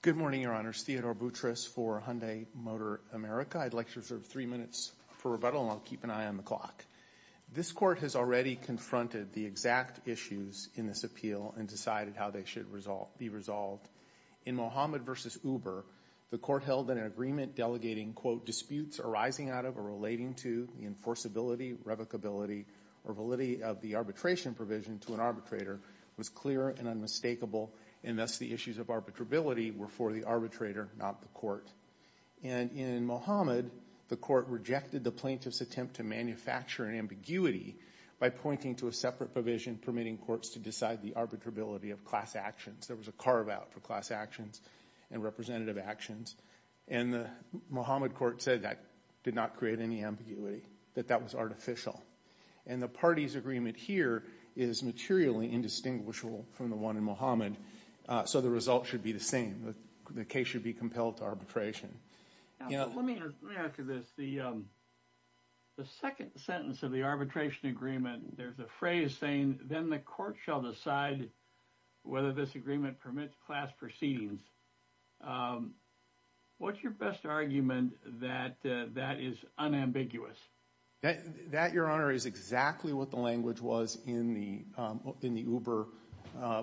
Good morning, Your Honors. Theodore Boutrous for Hyundai Motor America. I'd like to reserve three minutes for rebuttal, and I'll keep an eye on the clock. This Court has already confronted the exact issues in this appeal and decided how they should be resolved. In Mohammed v. Uber, the Court held that an agreement delegating, quote, the enforceability, revocability, or validity of the arbitration provision to an arbitrator was clear and unmistakable, and thus the issues of arbitrability were for the arbitrator, not the Court. And in Mohammed, the Court rejected the plaintiff's attempt to manufacture an ambiguity by pointing to a separate provision permitting courts to decide the arbitrability of class actions. There was a carve-out for class actions and representative actions, and the Mohammed Court said that did not create any ambiguity, that that was artificial. And the party's agreement here is materially indistinguishable from the one in Mohammed, so the result should be the same. The case should be compelled to arbitration. Let me ask you this. The second sentence of the arbitration agreement, there's a phrase saying, then the Court shall decide whether this agreement permits class proceedings. What's your best argument that that is unambiguous? That, Your Honor, is exactly what the language was in the Uber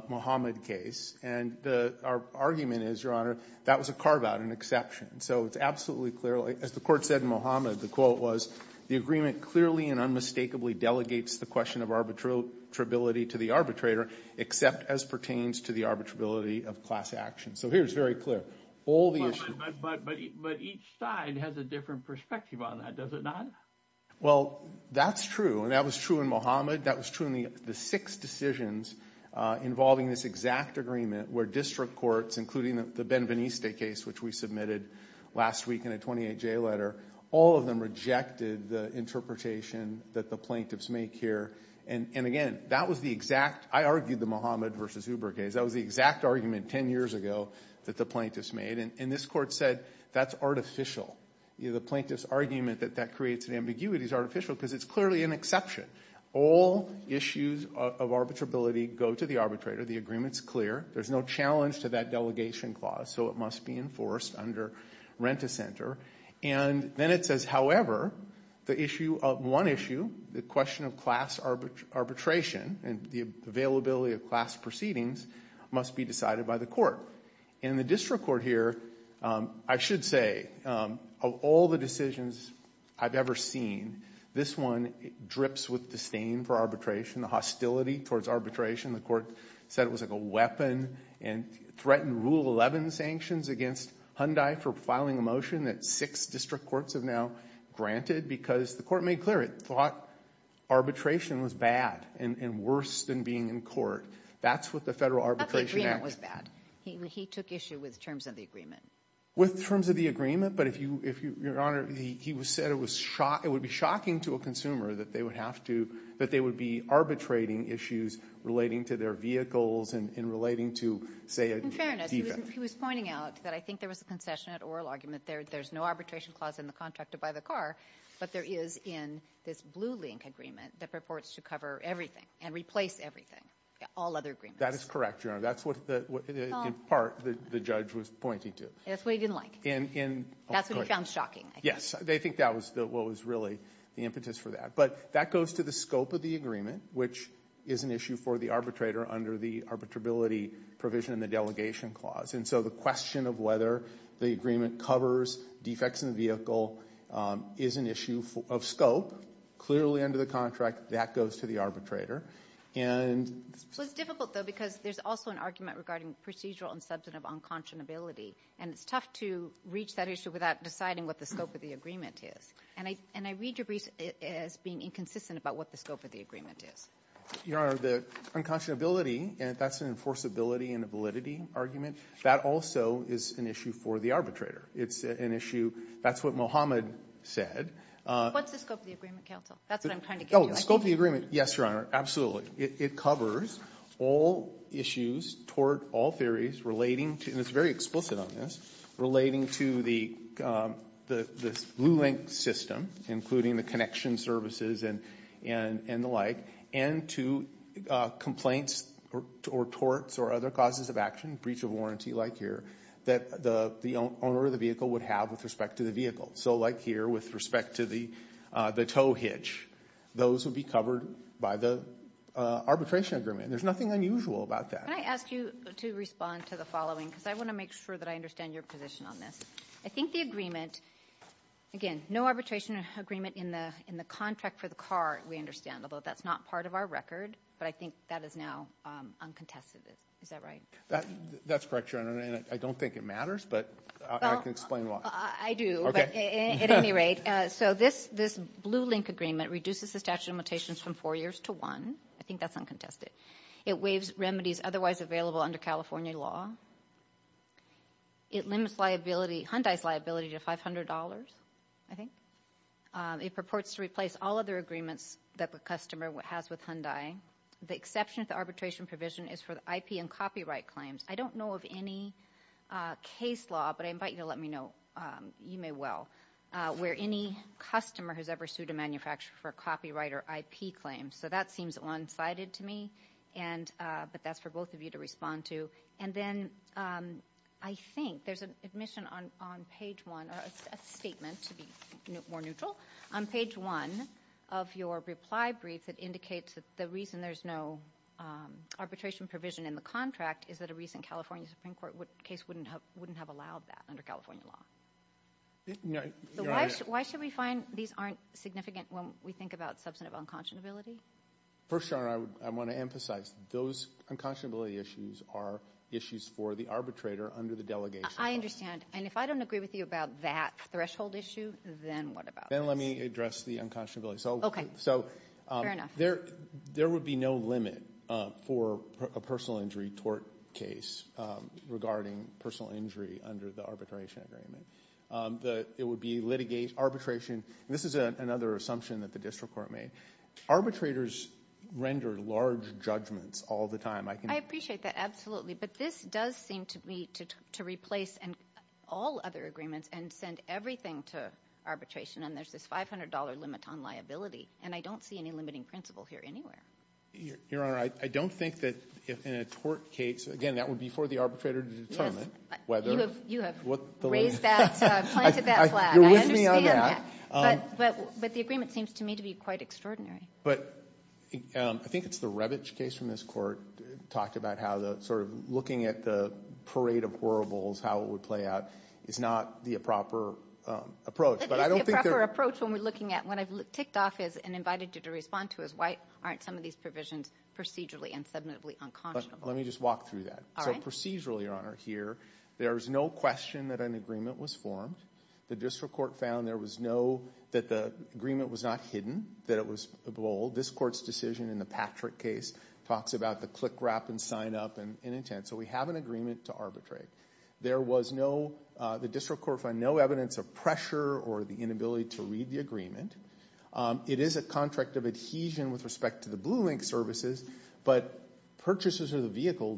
Mohammed case, and our argument is, Your Honor, that was a carve-out, an exception. So it's absolutely clear, as the Court said in Mohammed, the quote was, the agreement clearly and unmistakably delegates the question of arbitrability to the arbitrator, except as pertains to the arbitrability of class actions. So here it's very clear. All the issues. But each side has a different perspective on that, does it not? Well, that's true, and that was true in Mohammed. That was true in the six decisions involving this exact agreement where district courts, including the Benveniste case, which we submitted last week in a 28-J letter, all of them rejected the interpretation that the plaintiffs make here. And again, that was the exact – I argued the Mohammed v. Uber case. That was the exact argument ten years ago that the plaintiffs made, and this Court said that's artificial. The plaintiffs' argument that that creates an ambiguity is artificial because it's clearly an exception. All issues of arbitrability go to the arbitrator. The agreement's clear. There's no challenge to that delegation clause, so it must be enforced under rent-a-center. And then it says, however, the issue of one issue, the question of class arbitration and the availability of class proceedings must be decided by the court. In the district court here, I should say, of all the decisions I've ever seen, this one drips with disdain for arbitration, the hostility towards arbitration. The court said it was like a weapon and threatened Rule 11 sanctions against Hyundai for filing a motion that six district courts have now granted because the court made clear it thought arbitration was bad and worse than being in court. That's what the Federal Arbitration Act – But the agreement was bad. He took issue with terms of the agreement. With terms of the agreement, but if you – Your Honor, he said it was – it would be shocking to a consumer that they would have to – in relating to their vehicles, in relating to, say, a defect. In fairness, he was pointing out that I think there was a concession at oral argument. There's no arbitration clause in the contract to buy the car, but there is in this Blue Link agreement that purports to cover everything and replace everything, all other agreements. That is correct, Your Honor. That's what the – in part, the judge was pointing to. That's what he didn't like. In – in – That's what he found shocking, I think. Yes. They think that was what was really the impetus for that. But that goes to the scope of the agreement, which is an issue for the arbitrator under the arbitrability provision in the delegation clause. And so the question of whether the agreement covers defects in the vehicle is an issue of scope. Clearly, under the contract, that goes to the arbitrator. And – So it's difficult, though, because there's also an argument regarding procedural and substantive unconscionability. And it's tough to reach that issue without deciding what the scope of the agreement is. And I – and I read your brief as being inconsistent about what the scope of the agreement is. Your Honor, the unconscionability, that's an enforceability and a validity argument. That also is an issue for the arbitrator. It's an issue – that's what Mohammed said. What's the scope of the agreement, counsel? That's what I'm trying to get at. Oh, the scope of the agreement, yes, Your Honor, absolutely. It covers all issues toward all theories relating to – and it's very explicit on this – relating to the Blue Link system, including the connection services and the like, and to complaints or torts or other causes of action, breach of warranty like here, that the owner of the vehicle would have with respect to the vehicle. So like here, with respect to the tow hitch, those would be covered by the arbitration agreement. There's nothing unusual about that. Can I ask you to respond to the following? Because I want to make sure that I understand your position on this. I think the agreement – again, no arbitration agreement in the contract for the car, we understand, although that's not part of our record, but I think that is now uncontested. Is that right? That's correct, Your Honor, and I don't think it matters, but I can explain why. Well, I do, but at any rate. So this Blue Link agreement reduces the statute of limitations from four years to one. I think that's uncontested. It waives remedies otherwise available under California law. It limits liability, Hyundai's liability, to $500, I think. It purports to replace all other agreements that the customer has with Hyundai. The exception to the arbitration provision is for IP and copyright claims. I don't know of any case law, but I invite you to let me know, you may well, where any customer has ever sued a manufacturer for a copyright or IP claim. So that seems one-sided to me, but that's for both of you to respond to. And then I think there's an admission on page one, or a statement, to be more neutral. On page one of your reply brief, it indicates that the reason there's no arbitration provision in the contract is that a recent California Supreme Court case wouldn't have allowed that under California law. Why should we find these aren't significant when we think about substantive unconscionability? First, Your Honor, I want to emphasize those unconscionability issues are issues for the arbitrator under the delegation. I understand. And if I don't agree with you about that threshold issue, then what about us? Then let me address the unconscionability. Okay. Fair enough. There would be no limit for a personal injury tort case regarding personal injury under the arbitration agreement. It would be litigation, arbitration. This is another assumption that the district court made. Arbitrators render large judgments all the time. I appreciate that, absolutely, but this does seem to me to replace all other agreements and send everything to arbitration, and there's this $500 limit on liability, and I don't see any limiting principle here anywhere. Your Honor, I don't think that in a tort case, again, that would be for the arbitrator to determine whether what the limit is. You have raised that, planted that flag. I understand that. But the agreement seems to me to be quite extraordinary. But I think it's the Rebich case from this Court talked about how the sort of looking at the parade of horribles, how it would play out, is not the proper approach. But I don't think there's the proper approach. What I've ticked off and invited you to respond to is, why aren't some of these provisions procedurally and submissively unconscionable? Let me just walk through that. Procedurally, Your Honor, here, there's no question that an agreement was formed. The district court found that the agreement was not hidden, that it was bold. This Court's decision in the Patrick case talks about the click wrap and sign up and intent. So we have an agreement to arbitrate. There was no, the district court found no evidence of pressure or the inability to read the agreement. It is a contract of adhesion with respect to the Blue Link services, but purchasers of the vehicle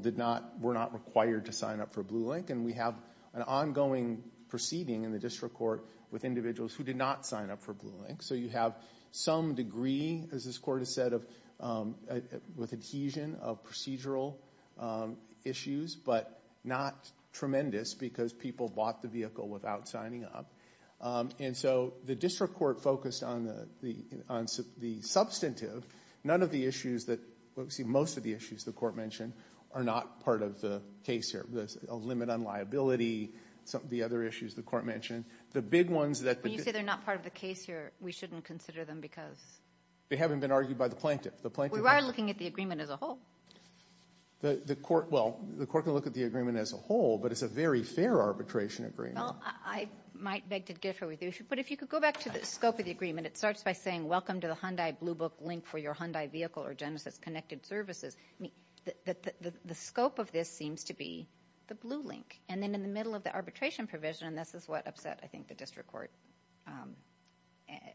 were not required to sign up for Blue Link. And we have an ongoing proceeding in the district court with individuals who did not sign up for Blue Link. So you have some degree, as this Court has said, with adhesion of procedural issues, but not tremendous because people bought the vehicle without signing up. And so the district court focused on the substantive. None of the issues that, let's see, most of the issues the Court mentioned are not part of the case here. There's a limit on liability, some of the other issues the Court mentioned. The big ones that the- When you say they're not part of the case here, we shouldn't consider them because- They haven't been argued by the plaintiff. We are looking at the agreement as a whole. The Court- Well, the Court can look at the agreement as a whole, but it's a very fair arbitration agreement. Well, I might beg to differ with you. But if you could go back to the scope of the agreement, it starts by saying, welcome to the Hyundai Blue Book Link for your Hyundai vehicle or Genesis Connected Services. The scope of this seems to be the Blue Link. And then in the middle of the arbitration provision, and this is what upset, I think, the district court,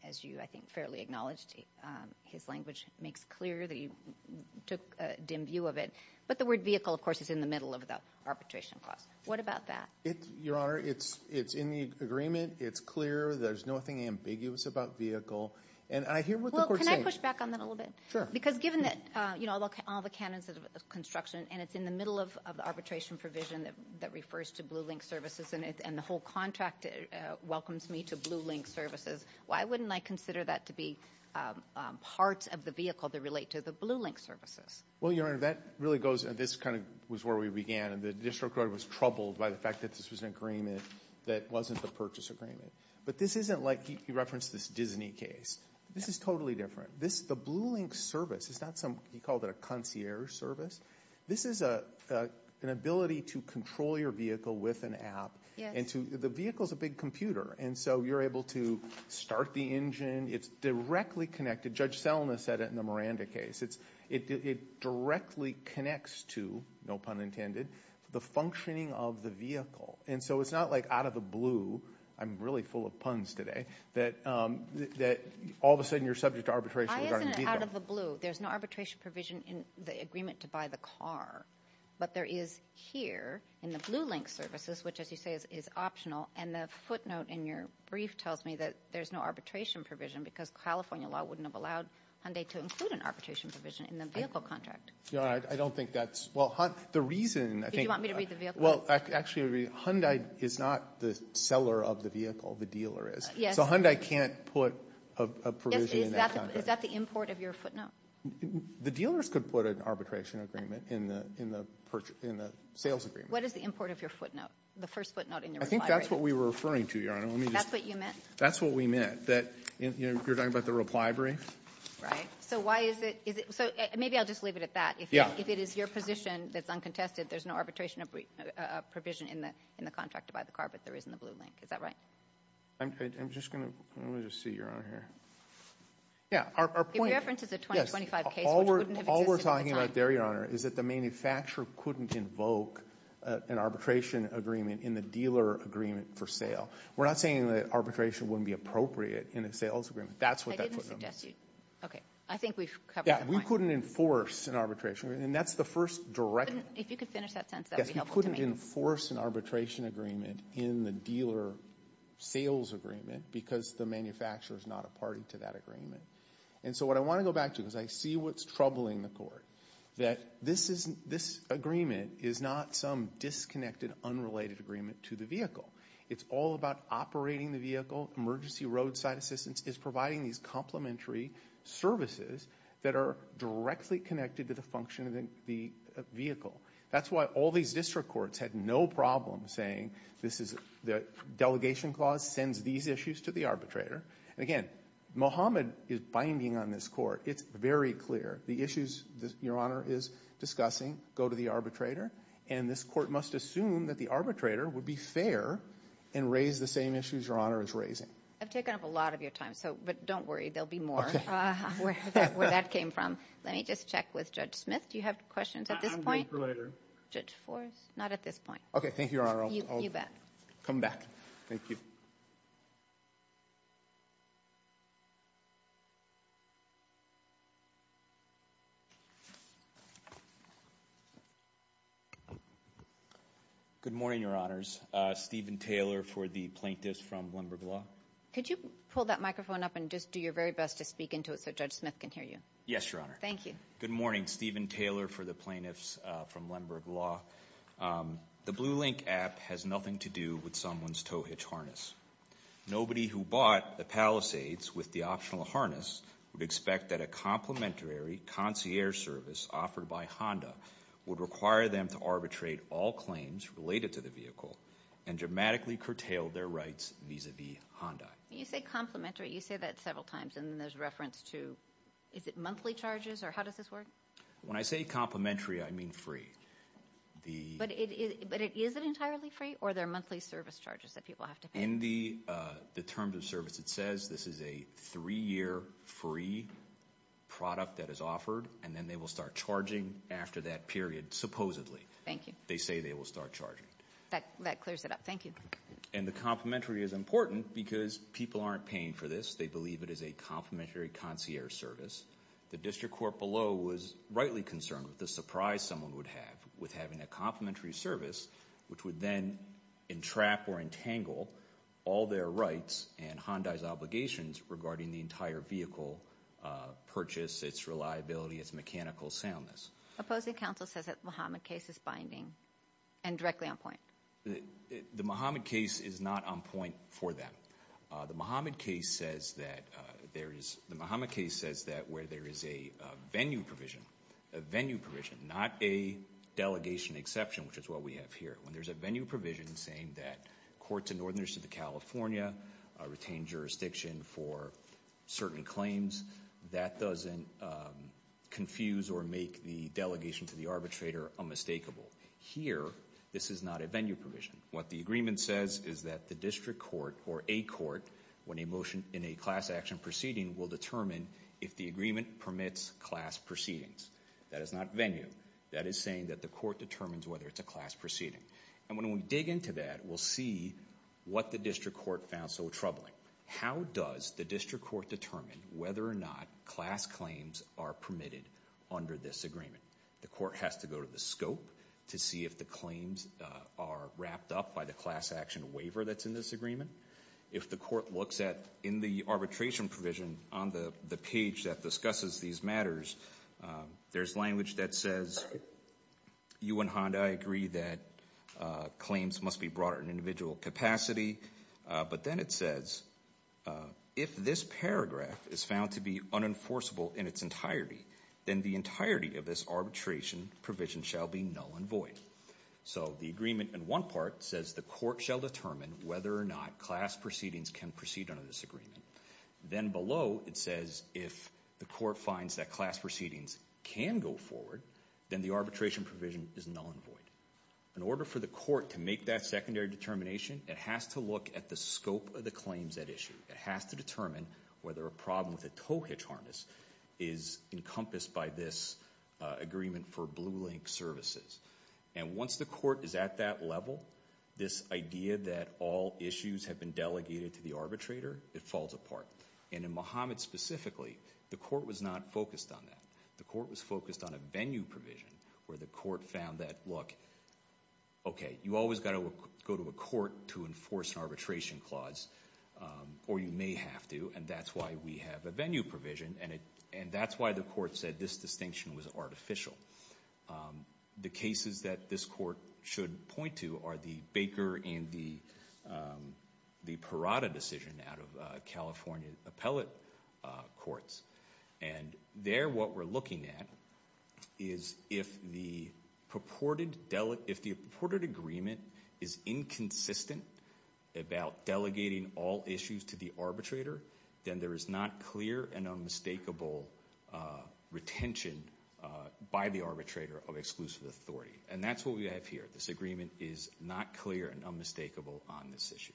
as you, I think, fairly acknowledged. His language makes clear that you took a dim view of it. But the word vehicle, of course, is in the middle of the arbitration clause. What about that? Your Honor, it's in the agreement. It's clear. There's nothing ambiguous about vehicle. And I hear what the Court's saying. Well, can I push back on that a little bit? Sure. Because given that, you know, all the canons of construction, and it's in the middle of the arbitration provision that refers to Blue Link Services, and the whole contract welcomes me to Blue Link Services, why wouldn't I consider that to be part of the vehicle that relate to the Blue Link Services? Well, Your Honor, that really goes, and this kind of was where we began, and the district court was troubled by the fact that this was an agreement that wasn't a purchase agreement. But this isn't like, he referenced this Disney case. This is totally different. The Blue Link Service is not some, he called it a concierge service. This is an ability to control your vehicle with an app. The vehicle's a big computer. And so you're able to start the engine. It's directly connected. Judge Selma said it in the Miranda case. It directly connects to, no pun intended, the functioning of the vehicle. And so it's not like out of the blue, I'm really full of puns today, that all of a sudden you're subject to arbitration regarding vehicle. I isn't out of the blue. There's no arbitration provision in the agreement to buy the car. But there is here in the Blue Link Services, which as you say is optional, and the footnote in your brief tells me that there's no arbitration provision because California law wouldn't have allowed Hyundai to include an arbitration provision in the vehicle contract. No, I don't think that's, well, the reason, I think. Did you want me to read the vehicle? Well, actually, Hyundai is not the seller of the vehicle. The dealer is. Yes. So Hyundai can't put a provision in that contract. Is that the import of your footnote? The dealers could put an arbitration agreement in the sales agreement. What is the import of your footnote? The first footnote in your reply. I think that's what we were referring to, Your Honor. That's what you meant? That's what we meant, that you're talking about the reply brief. Right. So why is it, so maybe I'll just leave it at that. If it is your position that's uncontested, there's no arbitration provision in the contract to buy the car, but there is in the Blue Link. Is that right? I'm just going to, let me just see, Your Honor, here. Yeah, our point. In reference to the 2025 case, which wouldn't have existed at the time. Your Honor, is that the manufacturer couldn't invoke an arbitration agreement in the dealer agreement for sale. We're not saying that arbitration wouldn't be appropriate in a sales agreement. That's what that footnote means. I didn't suggest to you. Okay. I think we've covered the point. Yeah, we couldn't enforce an arbitration agreement, and that's the first direct. If you could finish that sentence, that would be helpful to me. Yes, we couldn't enforce an arbitration agreement in the dealer sales agreement because the manufacturer is not a party to that agreement. And so what I want to go back to, because I see what's troubling the Court, that this agreement is not some disconnected, unrelated agreement to the vehicle. It's all about operating the vehicle. Emergency roadside assistance is providing these complementary services that are directly connected to the function of the vehicle. That's why all these district courts had no problem saying this is, the delegation clause sends these issues to the arbitrator. Again, Mohammed is binding on this Court. It's very clear. The issues Your Honor is discussing go to the arbitrator, and this Court must assume that the arbitrator would be fair and raise the same issues Your Honor is raising. I've taken up a lot of your time, but don't worry. There will be more where that came from. Let me just check with Judge Smith. Do you have questions at this point? I'm good for later. Judge Forrest, not at this point. Okay, thank you, Your Honor. You bet. I'll come back. Thank you. Good morning, Your Honors. Stephen Taylor for the plaintiffs from Lemberg Law. Could you pull that microphone up and just do your very best to speak into it so Judge Smith can hear you? Yes, Your Honor. Thank you. Good morning. Stephen Taylor for the plaintiffs from Lemberg Law. The Blue Link app has nothing to do with someone's tow hitch harness. Nobody who bought the Palisades with the optional harness would expect that a complimentary concierge service offered by Honda would require them to arbitrate all claims related to the vehicle and dramatically curtail their rights vis-à-vis Honda. When you say complimentary, you say that several times, and then there's reference to is it monthly charges, or how does this work? When I say complimentary, I mean free. But is it entirely free, or are there monthly service charges that people have to pay? In the terms of service it says, this is a three-year free product that is offered, and then they will start charging after that period, supposedly. Thank you. They say they will start charging. That clears it up. Thank you. And the complimentary is important because people aren't paying for this. They believe it is a complimentary concierge service. The district court below was rightly concerned with the surprise someone would have with having a complimentary service, which would then entrap or entangle all their rights and Honda's obligations regarding the entire vehicle purchase, its reliability, its mechanical soundness. Opposing counsel says that the Muhammad case is binding and directly on point. The Muhammad case is not on point for them. The Muhammad case says that where there is a venue provision, not a delegation exception, which is what we have here. When there's a venue provision saying that courts in northern California retain jurisdiction for certain claims, that doesn't confuse or make the delegation to the arbitrator unmistakable. Here, this is not a venue provision. What the agreement says is that the district court or a court, when a motion in a class action proceeding, will determine if the agreement permits class proceedings. That is not venue. That is saying that the court determines whether it's a class proceeding. And when we dig into that, we'll see what the district court found so troubling. How does the district court determine whether or not class claims are permitted under this agreement? The court has to go to the scope to see if the claims are wrapped up by the class action waiver that's in this agreement. If the court looks at, in the arbitration provision, on the page that discusses these matters, there's language that says you and Honda agree that claims must be brought at an individual capacity, but then it says, if this paragraph is found to be unenforceable in its entirety, then the entirety of this arbitration provision shall be null and void. So the agreement in one part says the court shall determine whether or not class proceedings can proceed under this agreement. Then below it says if the court finds that class proceedings can go forward, then the arbitration provision is null and void. In order for the court to make that secondary determination, it has to look at the scope of the claims at issue. It has to determine whether a problem with a tow hitch harness is encompassed by this agreement for Blue Link services. And once the court is at that level, this idea that all issues have been delegated to the arbitrator, it falls apart. And in Muhammad specifically, the court was not focused on that. The court was focused on a venue provision where the court found that, look, okay, you always got to go to a court to enforce an arbitration clause, or you may have to, and that's why we have a venue provision, and that's why the court said this distinction was artificial. The cases that this court should point to are the Baker and the Parada decision out of California appellate courts. And there what we're looking at is if the purported agreement is inconsistent about delegating all issues to the arbitrator, then there is not clear and unmistakable retention by the arbitrator of exclusive authority. And that's what we have here. This agreement is not clear and unmistakable on this issue.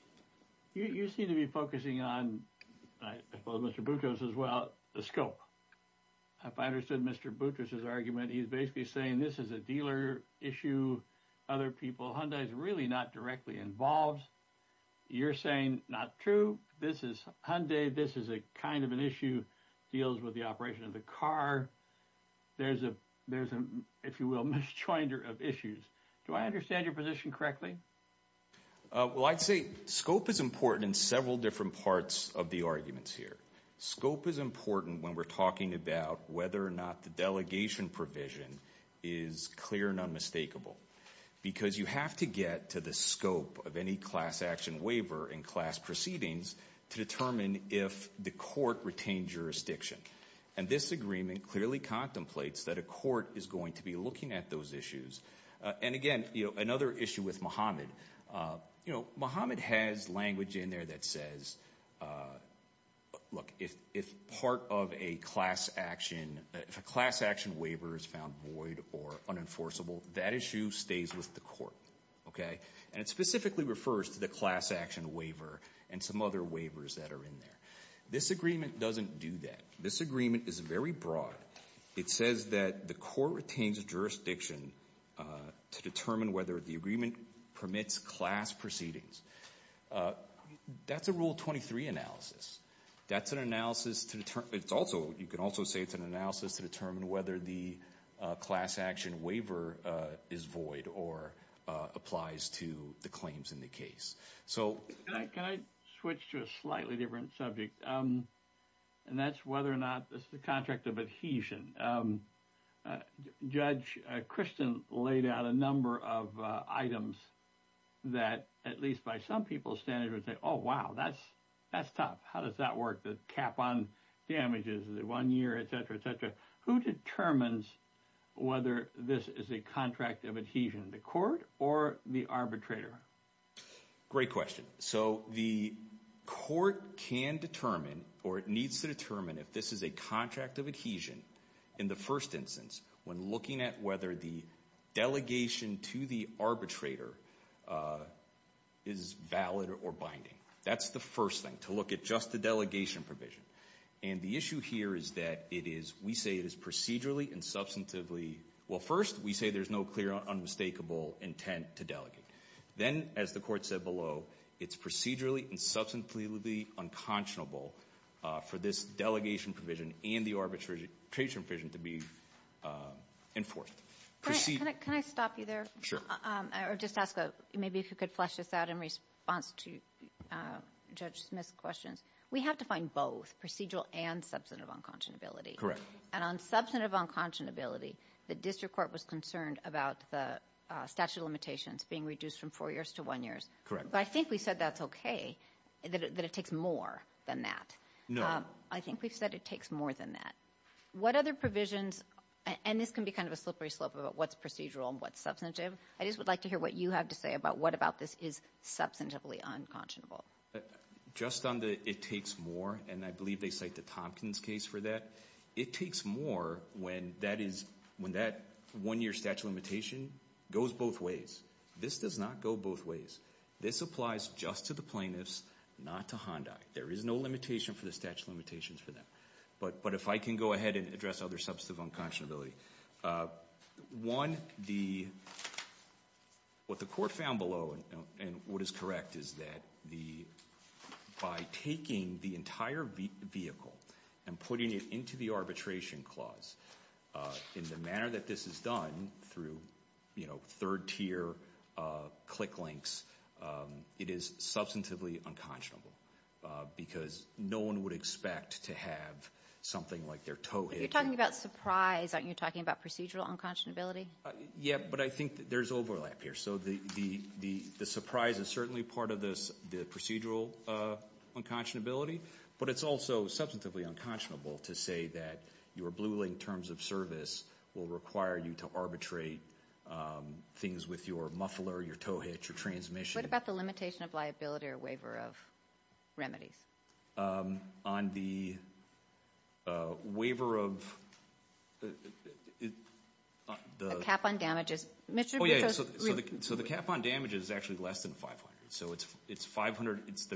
You seem to be focusing on, I suppose Mr. Boutros as well, the scope. If I understood Mr. Boutros' argument, he's basically saying this is a dealer issue, other people, Hyundai's really not directly involved. You're saying, not true, this is Hyundai, this is a kind of an issue, deals with the operation of the car. There's a, if you will, mis-joinder of issues. Do I understand your position correctly? Well, I'd say scope is important in several different parts of the arguments here. Scope is important when we're talking about whether or not the delegation provision is clear and unmistakable because you have to get to the scope of any class action waiver in class proceedings to determine if the court retained jurisdiction. And this agreement clearly contemplates that a court is going to be looking at those issues. And again, another issue with Mohammed, Mohammed has language in there that says, look, if part of a class action, if a class action waiver is found void or unenforceable, that issue stays with the court. And it specifically refers to the class action waiver and some other waivers that are in there. This agreement doesn't do that. This agreement is very broad. It says that the court retains jurisdiction to determine whether the agreement permits class proceedings. That's a Rule 23 analysis. That's an analysis to determine. It's also, you can also say it's an analysis to determine whether the class action waiver is void or applies to the claims in the case. Can I switch to a slightly different subject? And that's whether or not this is a contract of adhesion. Judge Christian laid out a number of items that at least by some people's standards would say, oh, wow, that's tough. How does that work? The cap on damages, the one year, et cetera, et cetera. Who determines whether this is a contract of adhesion, the court or the arbitrator? Great question. So the court can determine or it needs to determine if this is a contract of adhesion in the first instance when looking at whether the delegation to the arbitrator is valid or binding. That's the first thing, to look at just the delegation provision. And the issue here is that it is, we say it is procedurally and substantively, well, first we say there's no clear unmistakable intent to delegate. Then, as the court said below, it's procedurally and substantively unconscionable for this delegation provision and the arbitration provision to be enforced. Can I stop you there? Sure. Or just ask maybe if you could flesh this out in response to Judge Smith's questions. We have to find both procedural and substantive unconscionability. And on substantive unconscionability, the district court was concerned about the statute of limitations being reduced from four years to one year. Correct. But I think we said that's okay, that it takes more than that. No. I think we've said it takes more than that. What other provisions, and this can be kind of a slippery slope about what's procedural and what's substantive. I just would like to hear what you have to say about what about this is substantively unconscionable. Just on the it takes more, and I believe they cite the Tompkins case for that. It takes more when that one-year statute of limitation goes both ways. This does not go both ways. This applies just to the plaintiffs, not to Hyundai. There is no limitation for the statute of limitations for them. But if I can go ahead and address other substantive unconscionability. One, what the court found below and what is correct is that by taking the entire vehicle and putting it into the arbitration clause, in the manner that this is done through third tier click links, it is substantively unconscionable. Because no one would expect to have something like their toe hit. You're talking about surprise. Aren't you talking about procedural unconscionability? Yeah, but I think there's overlap here. So the surprise is certainly part of the procedural unconscionability. But it's also substantively unconscionable to say that your blue link terms of service will require you to arbitrate things with your muffler, your toe hit, your transmission. What about the limitation of liability or waiver of remedies? On the waiver of... The cap on damages. Oh, yeah. So the cap on damages is actually less than 500. So it's 500. It's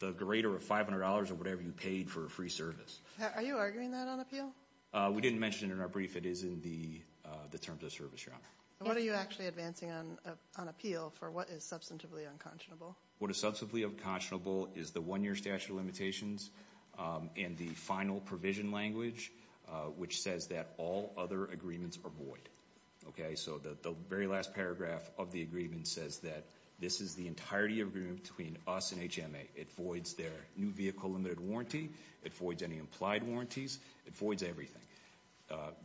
the greater of $500 or whatever you paid for a free service. Are you arguing that on appeal? We didn't mention it in our brief. It is in the terms of service. What are you actually advancing on appeal for what is substantively unconscionable? What is substantively unconscionable is the one-year statute of limitations and the final provision language, which says that all other agreements are void. Okay, so the very last paragraph of the agreement says that this is the entirety of agreement between us and HMA. It voids their new vehicle limited warranty. It voids any implied warranties. It voids everything.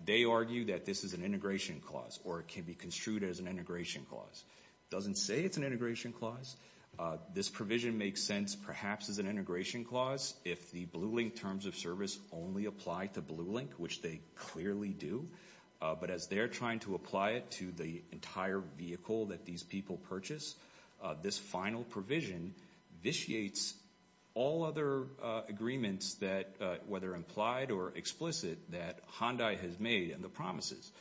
They argue that this is an integration clause, or it can be construed as an integration clause. It doesn't say it's an integration clause. This provision makes sense perhaps as an integration clause if the Blue Link terms of service only apply to Blue Link, which they clearly do. But as they're trying to apply it to the entire vehicle that these people purchase, this final provision vitiates all other agreements that, whether implied or explicit, that Hyundai has made and the promises.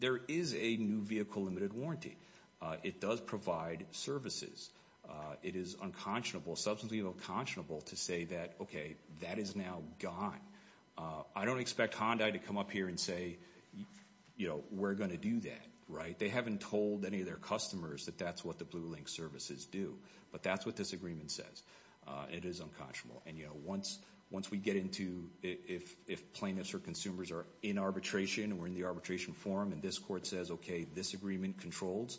There is a new vehicle limited warranty. It does provide services. It is unconscionable, substantively unconscionable, to say that, okay, that is now gone. I don't expect Hyundai to come up here and say, we're going to do that, right? They haven't told any of their customers that that's what the Blue Link services do. But that's what this agreement says. It is unconscionable. And, you know, once we get into if plaintiffs or consumers are in arbitration, and we're in the arbitration forum, and this court says, okay, this agreement controls,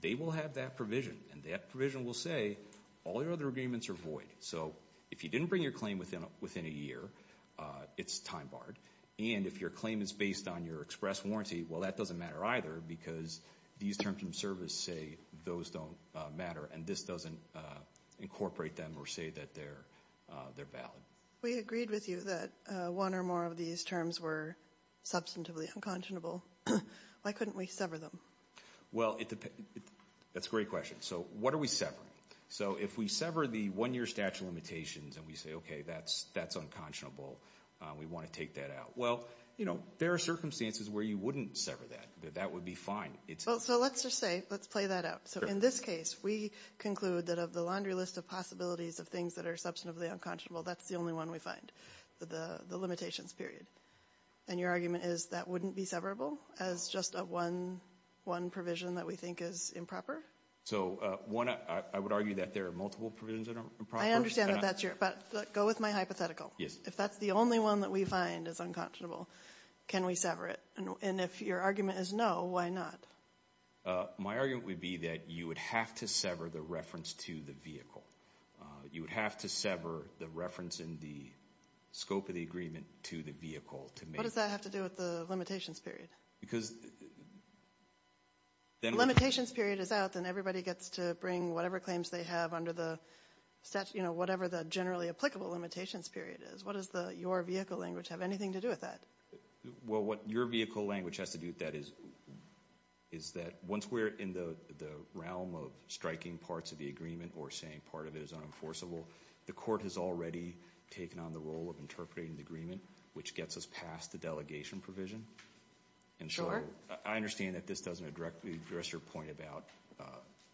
they will have that provision. And that provision will say all your other agreements are void. So if you didn't bring your claim within a year, it's time barred. And if your claim is based on your express warranty, well, that doesn't matter either because these terms of service say those don't matter. And this doesn't incorporate them or say that they're valid. We agreed with you that one or more of these terms were substantively unconscionable. Why couldn't we sever them? Well, that's a great question. So what are we severing? So if we sever the one-year statute of limitations and we say, okay, that's unconscionable, we want to take that out. Well, you know, there are circumstances where you wouldn't sever that. That would be fine. So let's just say, let's play that out. So in this case, we conclude that of the laundry list of possibilities of things that are substantively unconscionable, that's the only one we find, the limitations period. And your argument is that wouldn't be severable as just a one provision that we think is improper? So one, I would argue that there are multiple provisions that are improper. I understand that that's your – but go with my hypothetical. Yes. If that's the only one that we find is unconscionable, can we sever it? And if your argument is no, why not? My argument would be that you would have to sever the reference to the vehicle. You would have to sever the reference in the scope of the agreement to the vehicle to make it. What does that have to do with the limitations period? Because then – If the limitations period is out, then everybody gets to bring whatever claims they have under the statute, you know, whatever the generally applicable limitations period is. What does your vehicle language have anything to do with that? Well, what your vehicle language has to do with that is that once we're in the realm of striking parts of the agreement or saying part of it is unenforceable, the court has already taken on the role of interpreting the agreement, which gets us past the delegation provision. And so I understand that this doesn't address your point about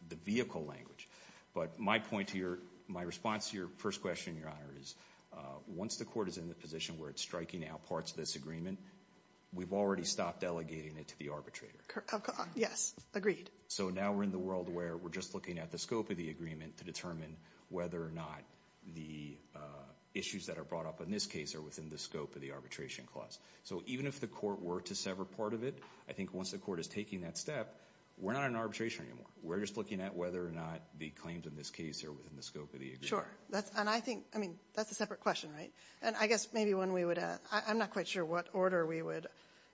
the vehicle language. But my point to your – my response to your first question, Your Honor, is once the court is in the position where it's striking out parts of this agreement, we've already stopped delegating it to the arbitrator. Yes, agreed. So now we're in the world where we're just looking at the scope of the agreement to determine whether or not the issues that are brought up in this case are within the scope of the arbitration clause. So even if the court were to sever part of it, I think once the court is taking that step, we're not in arbitration anymore. We're just looking at whether or not the claims in this case are within the scope of the agreement. Sure. And I think – I mean, that's a separate question, right? And I guess maybe one we would – I'm not quite sure what order we would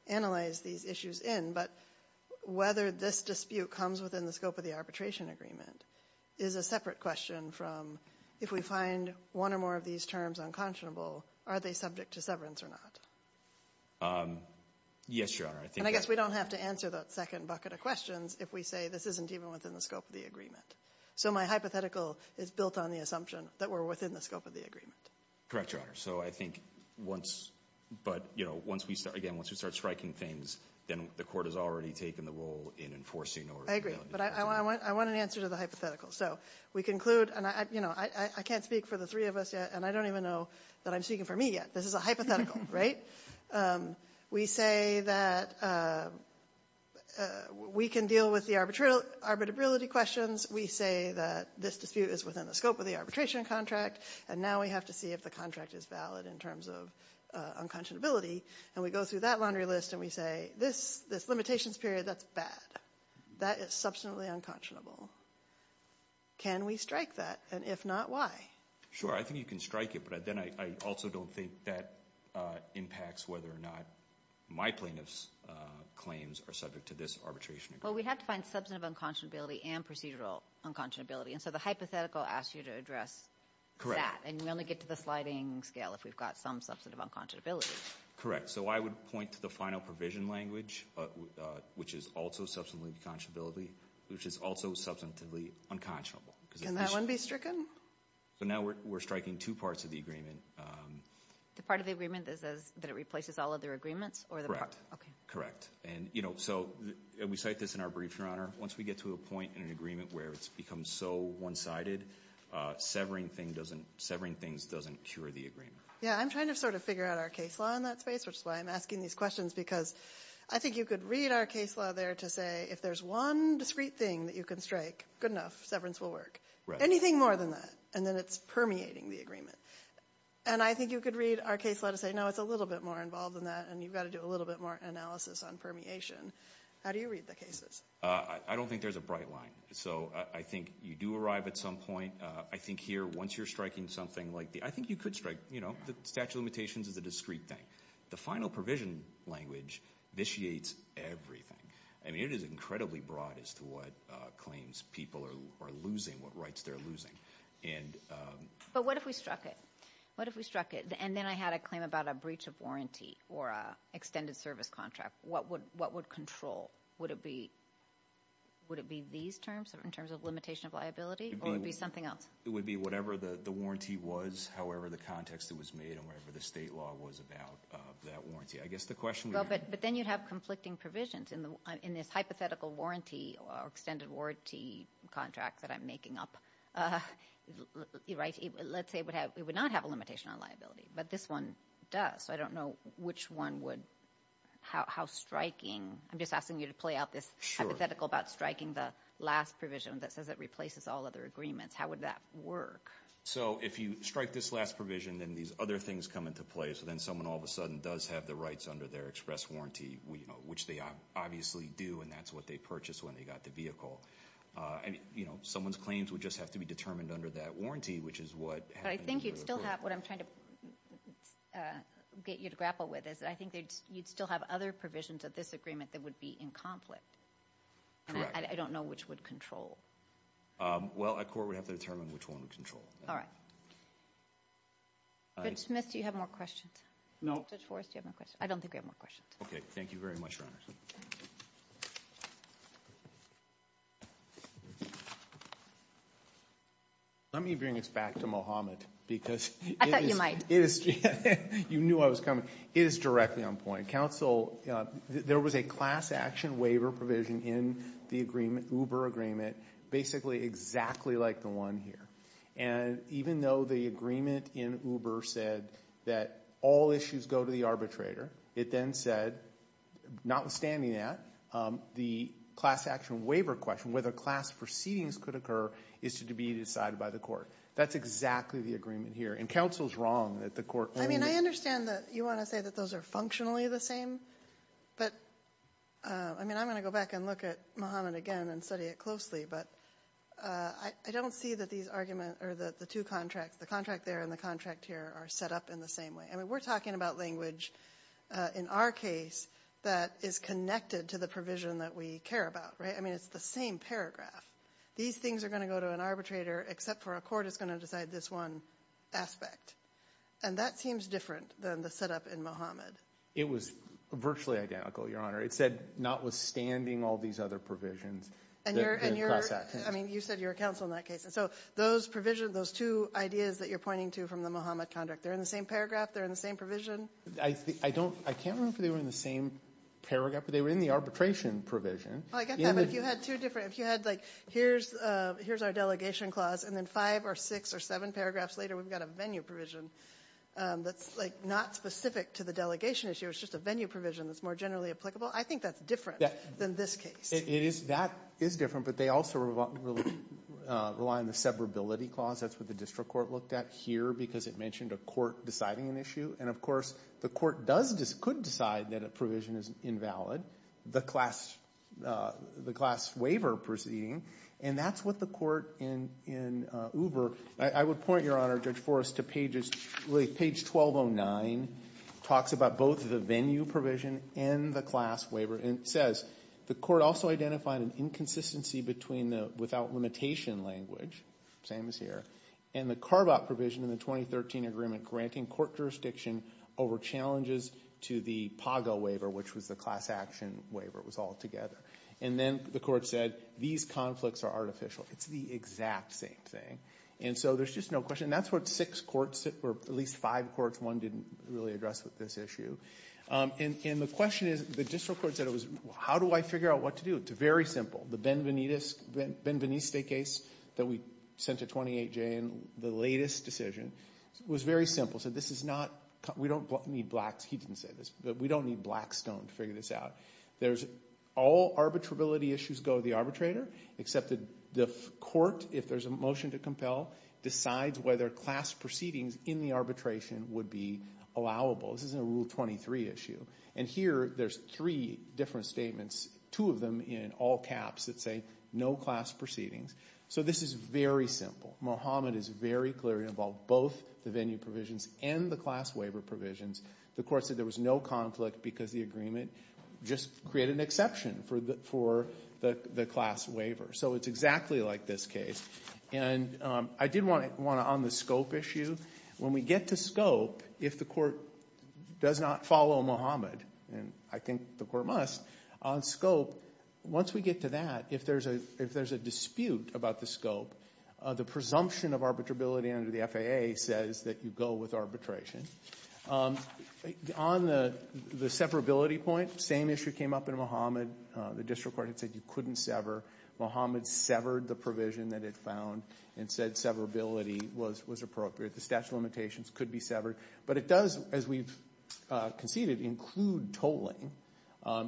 analyze these issues in, but whether this dispute comes within the scope of the arbitration agreement is a separate question from if we find one or more of these terms unconscionable, are they subject to severance or not? Yes, Your Honor. And I guess we don't have to answer that second bucket of questions if we say this isn't even within the scope of the agreement. So my hypothetical is built on the assumption that we're within the scope of the agreement. Correct, Your Honor. So I think once – but, you know, once we start – again, once we start striking things, then the court has already taken the role in enforcing or – I agree, but I want an answer to the hypothetical. So we conclude – and, you know, I can't speak for the three of us yet, and I don't even know that I'm speaking for me yet. This is a hypothetical, right? We say that we can deal with the arbitrability questions. Once we say that this dispute is within the scope of the arbitration contract and now we have to see if the contract is valid in terms of unconscionability, and we go through that laundry list and we say this limitations period, that's bad. That is substantively unconscionable. Can we strike that? And if not, why? Sure, I think you can strike it, but then I also don't think that impacts whether or not my plaintiff's claims are subject to this arbitration agreement. Well, we have to find substantive unconscionability and procedural unconscionability, and so the hypothetical asks you to address that. And you only get to the sliding scale if we've got some substantive unconscionability. Correct. So I would point to the final provision language, which is also substantively unconscionable. Can that one be stricken? So now we're striking two parts of the agreement. The part of the agreement that says that it replaces all other agreements? Correct. Okay. That's in our brief, Your Honor. Once we get to a point in an agreement where it's become so one-sided, severing things doesn't cure the agreement. Yeah, I'm trying to sort of figure out our case law in that space, which is why I'm asking these questions, because I think you could read our case law there to say if there's one discrete thing that you can strike, good enough, severance will work. Anything more than that, and then it's permeating the agreement. And I think you could read our case law to say, no, it's a little bit more involved than that, and you've got to do a little bit more analysis on permeation. How do you read the cases? I don't think there's a bright line. So I think you do arrive at some point. I think here, once you're striking something like the ‑‑ I think you could strike, you know, the statute of limitations is a discrete thing. The final provision language vitiates everything. I mean, it is incredibly broad as to what claims people are losing, what rights they're losing. But what if we struck it? What if we struck it, and then I had a claim about a breach of warranty or an extended service contract? What would control? Would it be these terms in terms of limitation of liability, or would it be something else? It would be whatever the warranty was, however the context it was made, and whatever the state law was about that warranty. I guess the question would be ‑‑ But then you'd have conflicting provisions. In this hypothetical warranty or extended warranty contract that I'm making up, let's say it would not have a limitation on liability, but this one does. So I don't know which one would ‑‑ how striking. I'm just asking you to play out this hypothetical about striking the last provision that says it replaces all other agreements. How would that work? So if you strike this last provision, then these other things come into play. So then someone all of a sudden does have the rights under their express warranty, which they obviously do, and that's what they purchased when they got the vehicle. I mean, you know, someone's claims would just have to be determined under that warranty, which is what happened to the vehicle. I think you'd still have ‑‑ what I'm trying to get you to grapple with is I think you'd still have other provisions of this agreement that would be in conflict. I don't know which would control. Well, a court would have to determine which one would control. All right. Judge Smith, do you have more questions? No. Judge Forrest, do you have more questions? I don't think I have more questions. Okay, thank you very much, Your Honors. Let me bring this back to Mohammed because it is ‑‑ I thought you might. You knew I was coming. It is directly on point. Counsel, there was a class action waiver provision in the agreement, Uber agreement, basically exactly like the one here. And even though the agreement in Uber said that all issues go to the arbitrator, it then said, notwithstanding that, the class action waiver question, whether class proceedings could occur, is to be decided by the court. That's exactly the agreement here. And counsel is wrong that the court only ‑‑ I mean, I understand that you want to say that those are functionally the same. But, I mean, I'm going to go back and look at Mohammed again and study it closely. But I don't see that these arguments or the two contracts, the contract there and the contract here are set up in the same way. I mean, we're talking about language, in our case, that is connected to the provision that we care about, right? I mean, it's the same paragraph. These things are going to go to an arbitrator, except for a court is going to decide this one aspect. And that seems different than the setup in Mohammed. It was virtually identical, Your Honor. It said, notwithstanding all these other provisions. And you're ‑‑ I mean, you said you're a counsel in that case. So those provisions, those two ideas that you're pointing to from the Mohammed contract, they're in the same paragraph? They're in the same provision? I don't ‑‑ I can't remember if they were in the same paragraph. But they were in the arbitration provision. Oh, I get that. But if you had two different ‑‑ if you had, like, here's our delegation clause, and then five or six or seven paragraphs later we've got a venue provision that's, like, not specific to the delegation issue. It's just a venue provision that's more generally applicable. I think that's different than this case. It is. That is different. But they also rely on the severability clause. That's what the district court looked at here because it mentioned a court deciding an issue. And, of course, the court does ‑‑ could decide that a provision is invalid, the class waiver proceeding. And that's what the court in Uber ‑‑ I would point, Your Honor, Judge Forrest, to pages ‑‑ really, page 1209 talks about both the venue provision and the class waiver. And it says the court also identified an inconsistency between the without limitation language, same as here, and the carve‑out provision in the 2013 agreement granting court jurisdiction over challenges to the PAGO waiver, which was the class action waiver. It was all together. And then the court said these conflicts are artificial. It's the exact same thing. And so there's just no question. That's what six courts, or at least five courts, one didn't really address with this issue. And the question is, the district court said, how do I figure out what to do? It's very simple. The Benveniste case that we sent to 28J in the latest decision was very simple. It said this is not ‑‑ we don't need black ‑‑ he didn't say this, but we don't need black stone to figure this out. There's all arbitrability issues go to the arbitrator, except that the court, if there's a motion to compel, decides whether class proceedings in the arbitration would be allowable. This isn't a Rule 23 issue. And here there's three different statements, two of them in all caps that say no class proceedings. So this is very simple. Mohammed is very clear it involved both the venue provisions and the class waiver provisions. The court said there was no conflict because the agreement just created an exception for the class waiver. So it's exactly like this case. And I did want to, on the scope issue, when we get to scope, if the court does not follow Mohammed, and I think the court must, on scope, once we get to that, if there's a dispute about the scope, the presumption of arbitrability under the FAA says that you go with arbitration. On the severability point, same issue came up in Mohammed. The district court had said you couldn't sever. Mohammed severed the provision that it found and said severability was appropriate. The statute of limitations could be severed. But it does, as we've conceded, include tolling.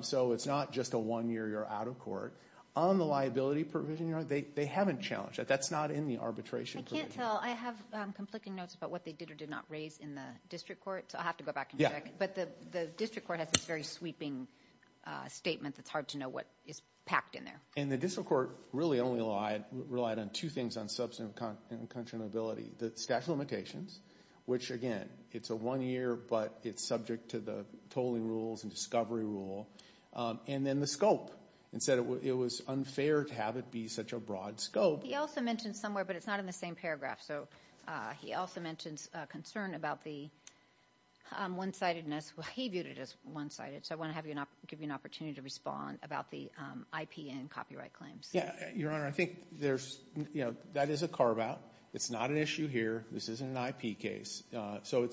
So it's not just a one-year you're out of court. On the liability provision, they haven't challenged it. That's not in the arbitration provision. I can't tell. I have conflicting notes about what they did or did not raise in the district court. So I'll have to go back and check. But the district court has this very sweeping statement that's hard to know what is packed in there. And the district court really only relied on two things on substantive unconscionability. The statute of limitations, which, again, it's a one-year, but it's subject to the tolling rules and discovery rule. And then the scope. It said it was unfair to have it be such a broad scope. He also mentions somewhere, but it's not in the same paragraph. So he also mentions a concern about the one-sidedness. He viewed it as one-sided. So I want to give you an opportunity to respond about the IP and copyright claims. Yeah, Your Honor, I think that is a carve-out. It's not an issue here. This isn't an IP case. So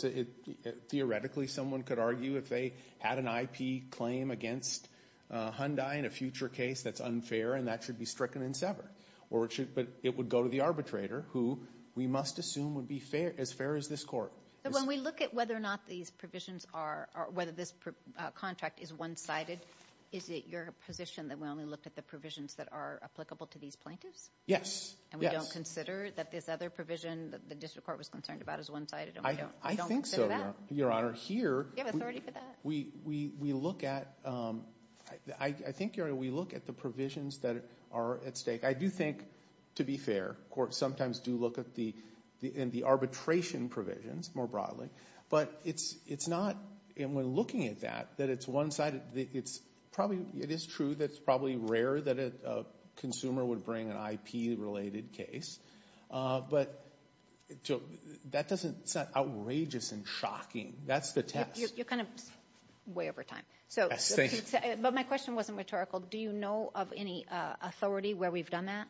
theoretically, someone could argue if they had an IP claim against Hyundai in a future case, that's unfair and that should be stricken and severed. But it would go to the arbitrator, who we must assume would be as fair as this court. But when we look at whether or not these provisions are or whether this contract is one-sided, is it your position that we only look at the provisions that are applicable to these plaintiffs? Yes. And we don't consider that this other provision that the district court was concerned about is one-sided and we don't consider that? I think so, Your Honor. Here, we look at the provisions that are at stake. I do think, to be fair, courts sometimes do look at the arbitration provisions more broadly. But it's not, when looking at that, that it's one-sided. It is true that it's probably rare that a consumer would bring an IP-related case. But that doesn't sound outrageous and shocking. That's the test. You're kind of way over time. But my question wasn't rhetorical. Do you know of any authority where we've done that?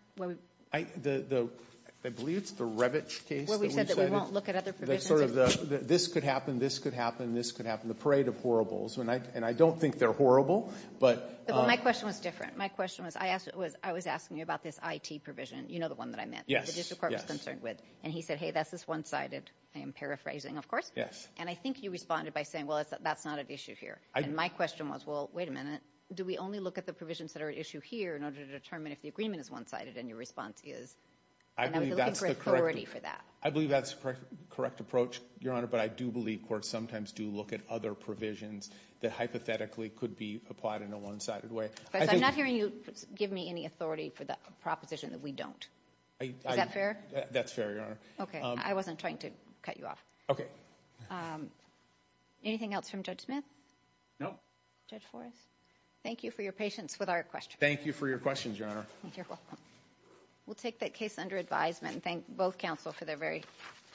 I believe it's the Revit case that we said that this could happen, this could happen, this could happen, the parade of horribles. And I don't think they're horrible. But my question was different. My question was, I was asking you about this IT provision. You know the one that I meant. Yes. That the district court was concerned with. And he said, hey, that's this one-sided. I am paraphrasing, of course. Yes. And I think you responded by saying, well, that's not at issue here. And my question was, well, wait a minute. Do we only look at the provisions that are at issue here in order to determine if the agreement is one-sided and your response is? I believe that's the correct approach, Your Honor, but I do believe courts sometimes do look at other provisions that hypothetically could be applied in a one-sided way. I'm not hearing you give me any authority for the proposition that we don't. Is that fair? That's fair, Your Honor. Okay. I wasn't trying to cut you off. Okay. Anything else from Judge Smith? No. Judge Forrest? Thank you for your patience with our questions. Thank you for your questions, Your Honor. You're welcome. We'll take that case under advisement and thank both counsel for their very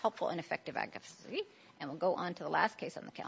helpful and effective advocacy. And we'll go on to the last case on the calendar.